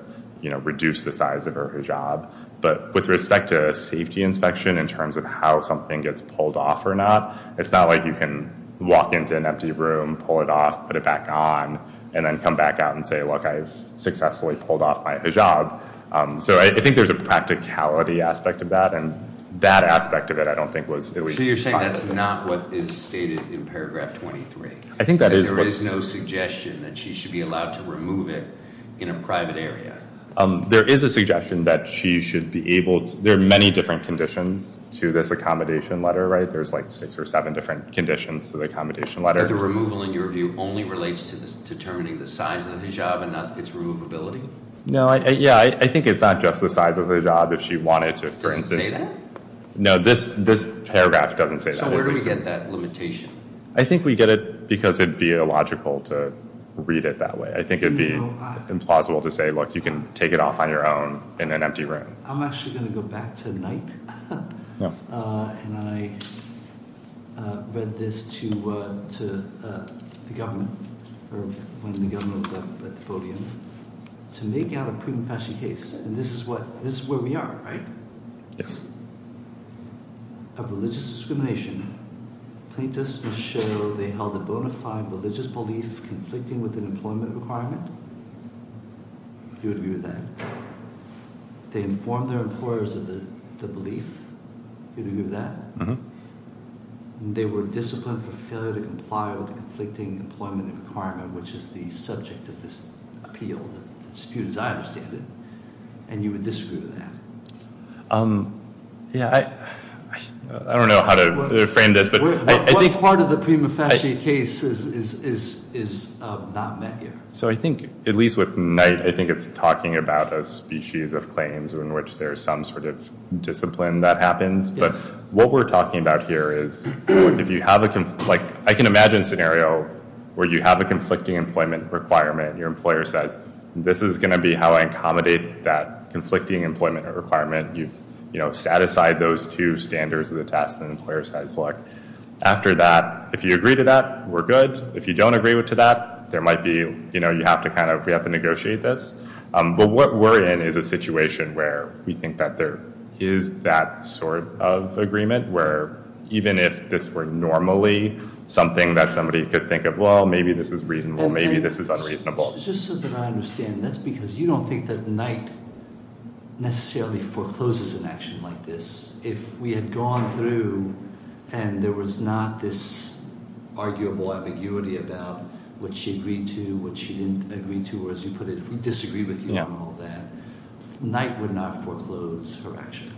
reduce the size of her hijab. But with respect to safety inspection in terms of how something gets pulled off or not, it's not like you can walk into an empty room, pull it off, put it back on, and then come back out and say, look, I've successfully pulled off my hijab. So I think there's a practicality aspect of that, and that aspect of it I don't think was at least implied. So you're saying that's not what is stated in paragraph 23? There is no suggestion that she should be allowed to remove it in a private area? There is a suggestion that she should be able to. There are many different conditions to this accommodation letter, right? There's like six or seven different conditions to the accommodation letter. The removal, in your view, only relates to determining the size of the hijab and not its removability? No. Yeah, I think it's not just the size of the hijab if she wanted to, for instance. Does it say that? No, this paragraph doesn't say that. So where do we get that limitation? I think we get it because it would be illogical to read it that way. I think it would be implausible to say, look, you can take it off on your own in an empty room. I'm actually going to go back to the night, and I read this to the government when the government was up at the podium, to make out a prima facie case. And this is where we are, right? Yes. Of religious discrimination, plaintiffs will show they held a bona fide religious belief conflicting with an employment requirement. Do you agree with that? No. They informed their employers of the belief. Do you agree with that? Mm-hmm. They were disciplined for failure to comply with the conflicting employment requirement, which is the subject of this appeal, the dispute as I understand it. And you would disagree with that? Yeah, I don't know how to frame this, but I think- What part of the prima facie case is not met here? So I think, at least with night, I think it's talking about a species of claims in which there's some sort of discipline that happens. Yes. What we're talking about here is if you have a- Like, I can imagine a scenario where you have a conflicting employment requirement, and your employer says, this is going to be how I accommodate that conflicting employment requirement. You've satisfied those two standards of the test, and the employer says, look, after that, if you agree to that, we're good. If you don't agree to that, there might be- You know, you have to kind of- We have to negotiate this. But what we're in is a situation where we think that there is that sort of agreement, where even if this were normally something that somebody could think of, well, maybe this is reasonable, maybe this is unreasonable. Just so that I understand, that's because you don't think that night necessarily forecloses an action like this. If we had gone through, and there was not this arguable ambiguity about what she agreed to, what she didn't agree to, or as you put it, if we disagree with you on all that, night would not foreclose her action.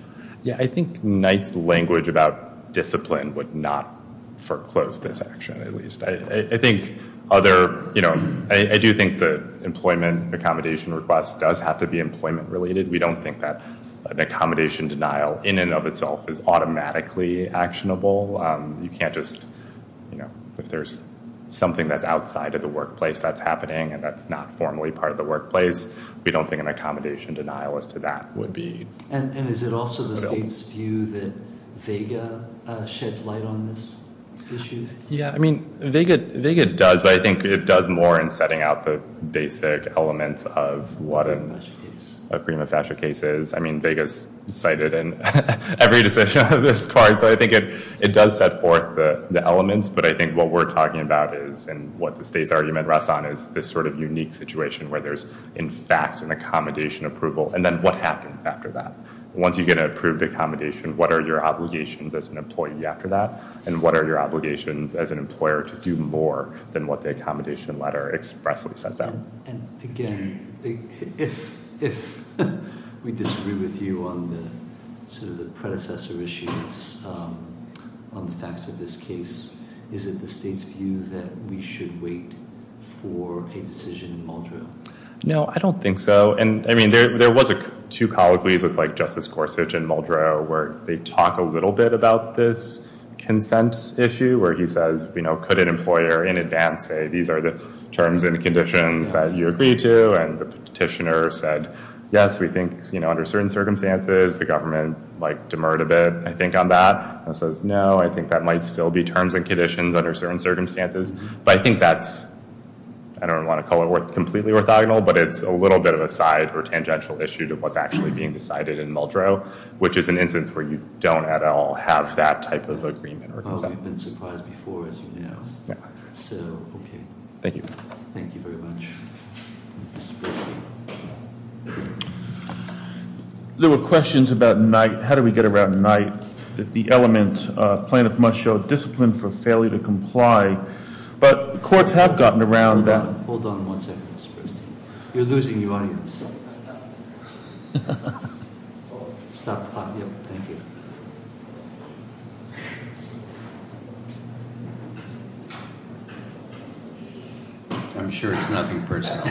Yeah, I think night's language about discipline would not foreclose this action, at least. I think other, you know, I do think the employment accommodation request does have to be employment related. We don't think that an accommodation denial in and of itself is automatically actionable. You can't just, you know, if there's something that's outside of the workplace that's happening and that's not formally part of the workplace, we don't think an accommodation denial as to that would be- And is it also the state's view that VEGA sheds light on this issue? Yeah, I mean, VEGA does, but I think it does more in setting out the basic elements of what a prima facie case is. I mean, VEGA's cited in every decision on this card, so I think it does set forth the elements. But I think what we're talking about is, and what the state's argument rests on, is this sort of unique situation where there's, in fact, an accommodation approval, and then what happens after that? Once you get an approved accommodation, what are your obligations as an employee after that? And what are your obligations as an employer to do more than what the accommodation letter expressly sets out? And again, if we disagree with you on the sort of the predecessor issues on the facts of this case, is it the state's view that we should wait for a decision in Muldrow? No, I don't think so. There was two colloquies with Justice Gorsuch and Muldrow where they talk a little bit about this consent issue, where he says, could an employer in advance say, these are the terms and conditions that you agree to? And the petitioner said, yes, we think under certain circumstances, the government demurred a bit, I think, on that. And he says, no, I think that might still be terms and conditions under certain circumstances. But I think that's, I don't want to call it completely orthogonal, but it's a little bit of a side or tangential issue to what's actually being decided in Muldrow, which is an instance where you don't at all have that type of agreement or consent. Oh, we've been surprised before, as you know. Yeah. So, okay. Thank you. Thank you very much. Mr. Bergeron. There were questions about night. The element, plaintiff must show discipline for failure to comply. But courts have gotten around that. Hold on one second, Mr. Bergeron. You're losing your audience. Stop the clock. Thank you. I'm sure it's nothing personal.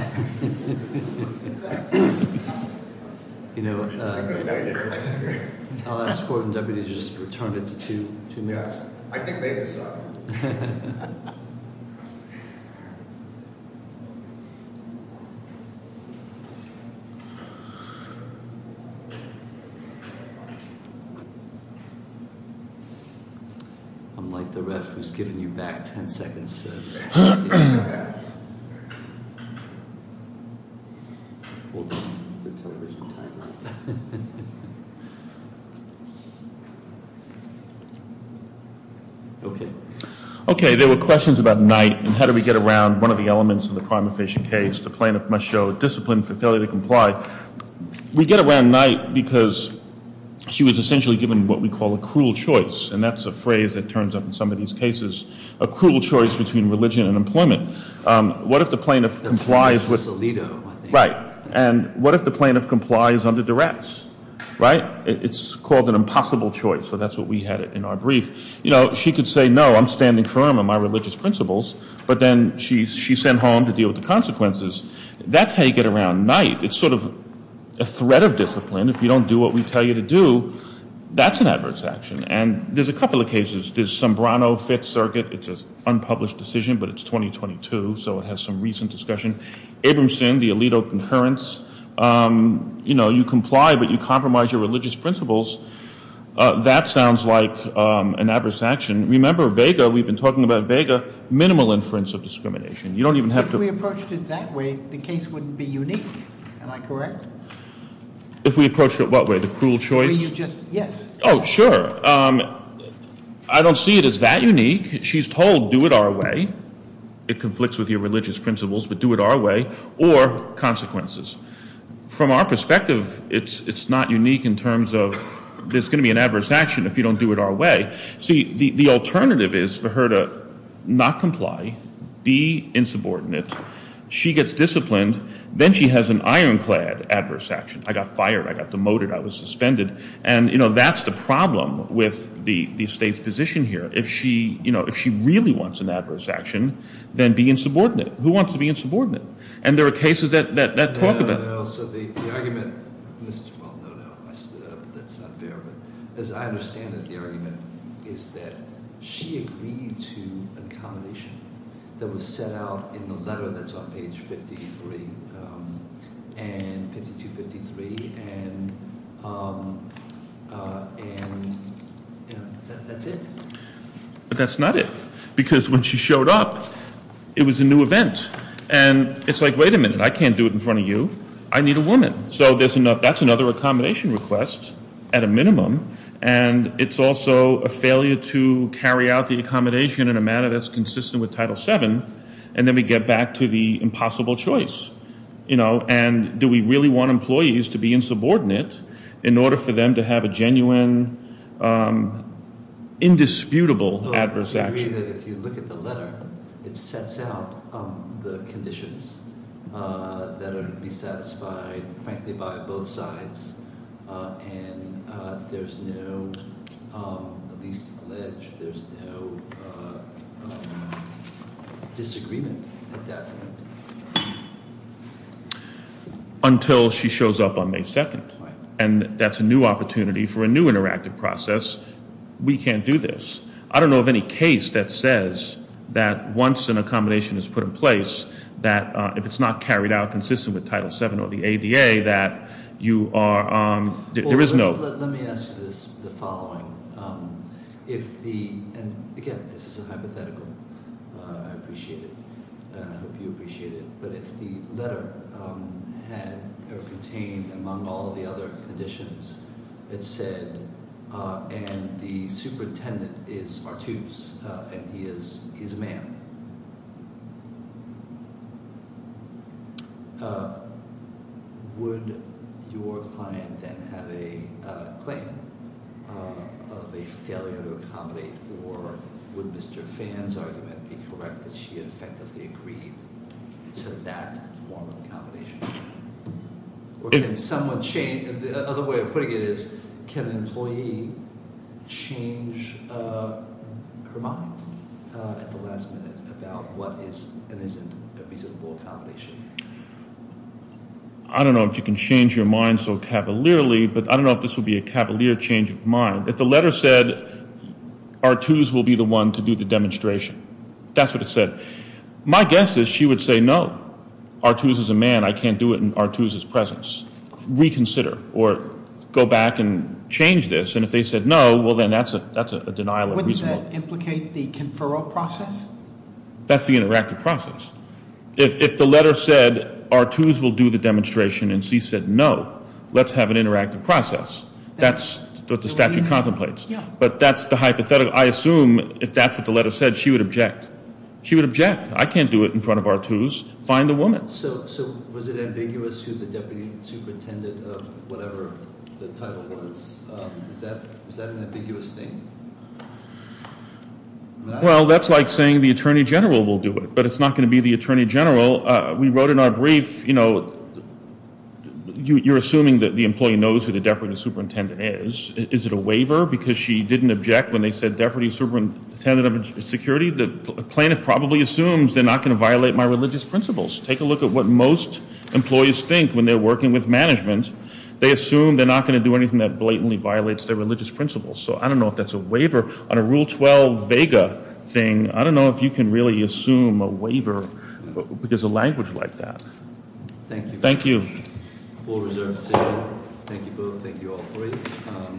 You know, I'll ask the court and deputies to just return it to two minutes. Yes. I think they've decided. I'm like the ref who's giving you back ten seconds. Okay. Okay, there were questions about night and how do we get around one of the elements of the crime efficient case, the plaintiff must show discipline for failure to comply. We get around night because she was essentially given what we call a cruel choice, and that's a phrase that turns up in some of these cases. A cruel choice between religion and employment. What if the plaintiff complies with. Right. And what if the plaintiff complies under duress? Right? It's called an impossible choice, so that's what we had in our brief. You know, she could say, no, I'm standing firm on my religious principles, but then she sent home to deal with the consequences. That's how you get around night. It's sort of a threat of discipline. If you don't do what we tell you to do, that's an adverse action. And there's a couple of cases. There's Sombrano Fifth Circuit. It's an unpublished decision, but it's 2022, so it has some recent discussion. Abramson, the Alito concurrence. You know, you comply, but you compromise your religious principles. That sounds like an adverse action. Remember Vega, we've been talking about Vega, minimal inference of discrimination. You don't even have to- If we approached it that way, the case wouldn't be unique. Am I correct? If we approached it what way? The cruel choice? Yes. Oh, sure. I don't see it as that unique. She's told do it our way. It conflicts with your religious principles, but do it our way or consequences. From our perspective, it's not unique in terms of there's going to be an adverse action if you don't do it our way. See, the alternative is for her to not comply, be insubordinate. She gets disciplined. Then she has an ironclad adverse action. I got fired. I got demoted. I was suspended. And, you know, that's the problem with the state's position here. If she really wants an adverse action, then be insubordinate. Who wants to be insubordinate? And there are cases that talk about it. Well, no, no. That's not fair. As I understand it, the argument is that she agreed to an accommodation that was set out in the letter that's on page 53 and 52, 53, and, you know, that's it. But that's not it. Because when she showed up, it was a new event. And it's like, wait a minute, I can't do it in front of you. I need a woman. So that's another accommodation request at a minimum. And it's also a failure to carry out the accommodation in a manner that's consistent with Title VII. And then we get back to the impossible choice. You know, and do we really want employees to be insubordinate in order for them to have a genuine, indisputable adverse action? I agree that if you look at the letter, it sets out the conditions that are to be satisfied, frankly, by both sides. And there's no, at least alleged, there's no disagreement at that point. Until she shows up on May 2nd. And that's a new opportunity for a new interactive process. We can't do this. I don't know of any case that says that once an accommodation is put in place, that if it's not carried out consistent with Title VII or the ADA, that you are, there is no- Well, let me ask you this, the following. If the, and again, this is a hypothetical. I appreciate it. And I hope you appreciate it. But if the letter had or contained, among all the other conditions, it said, and the superintendent is Artuse, and he is a man. Would your client then have a claim of a failure to accommodate? Or would Mr. Phan's argument be correct that she had effectively agreed to that form of accommodation? Or can someone change, the other way of putting it is, can an employee change her mind at the last minute about what is and isn't a reasonable accommodation? I don't know if you can change your mind so cavalierly, but I don't know if this would be a cavalier change of mind. If the letter said, Artuse will be the one to do the demonstration, that's what it said. My guess is she would say no. Artuse is a man, I can't do it in Artuse's presence. Reconsider, or go back and change this. And if they said no, well then that's a denial of reason. Wouldn't that implicate the conferral process? That's the interactive process. If the letter said, Artuse will do the demonstration, and she said no, let's have an interactive process. That's what the statute contemplates. Yeah. But that's the hypothetical. I assume if that's what the letter said, she would object. She would object. I can't do it in front of Artuse. Find the woman. So was it ambiguous who the deputy superintendent of whatever the title was? Is that an ambiguous thing? Well, that's like saying the attorney general will do it, but it's not going to be the attorney general. We wrote in our brief, you know, you're assuming that the employee knows who the deputy superintendent is. Is it a waiver because she didn't object when they said deputy superintendent of security? The plaintiff probably assumes they're not going to violate my religious principles. Take a look at what most employees think when they're working with management. They assume they're not going to do anything that blatantly violates their religious principles. So I don't know if that's a waiver. On a Rule 12 vega thing, I don't know if you can really assume a waiver because of language like that. Thank you. Thank you. Thank you both. Thank you all for it.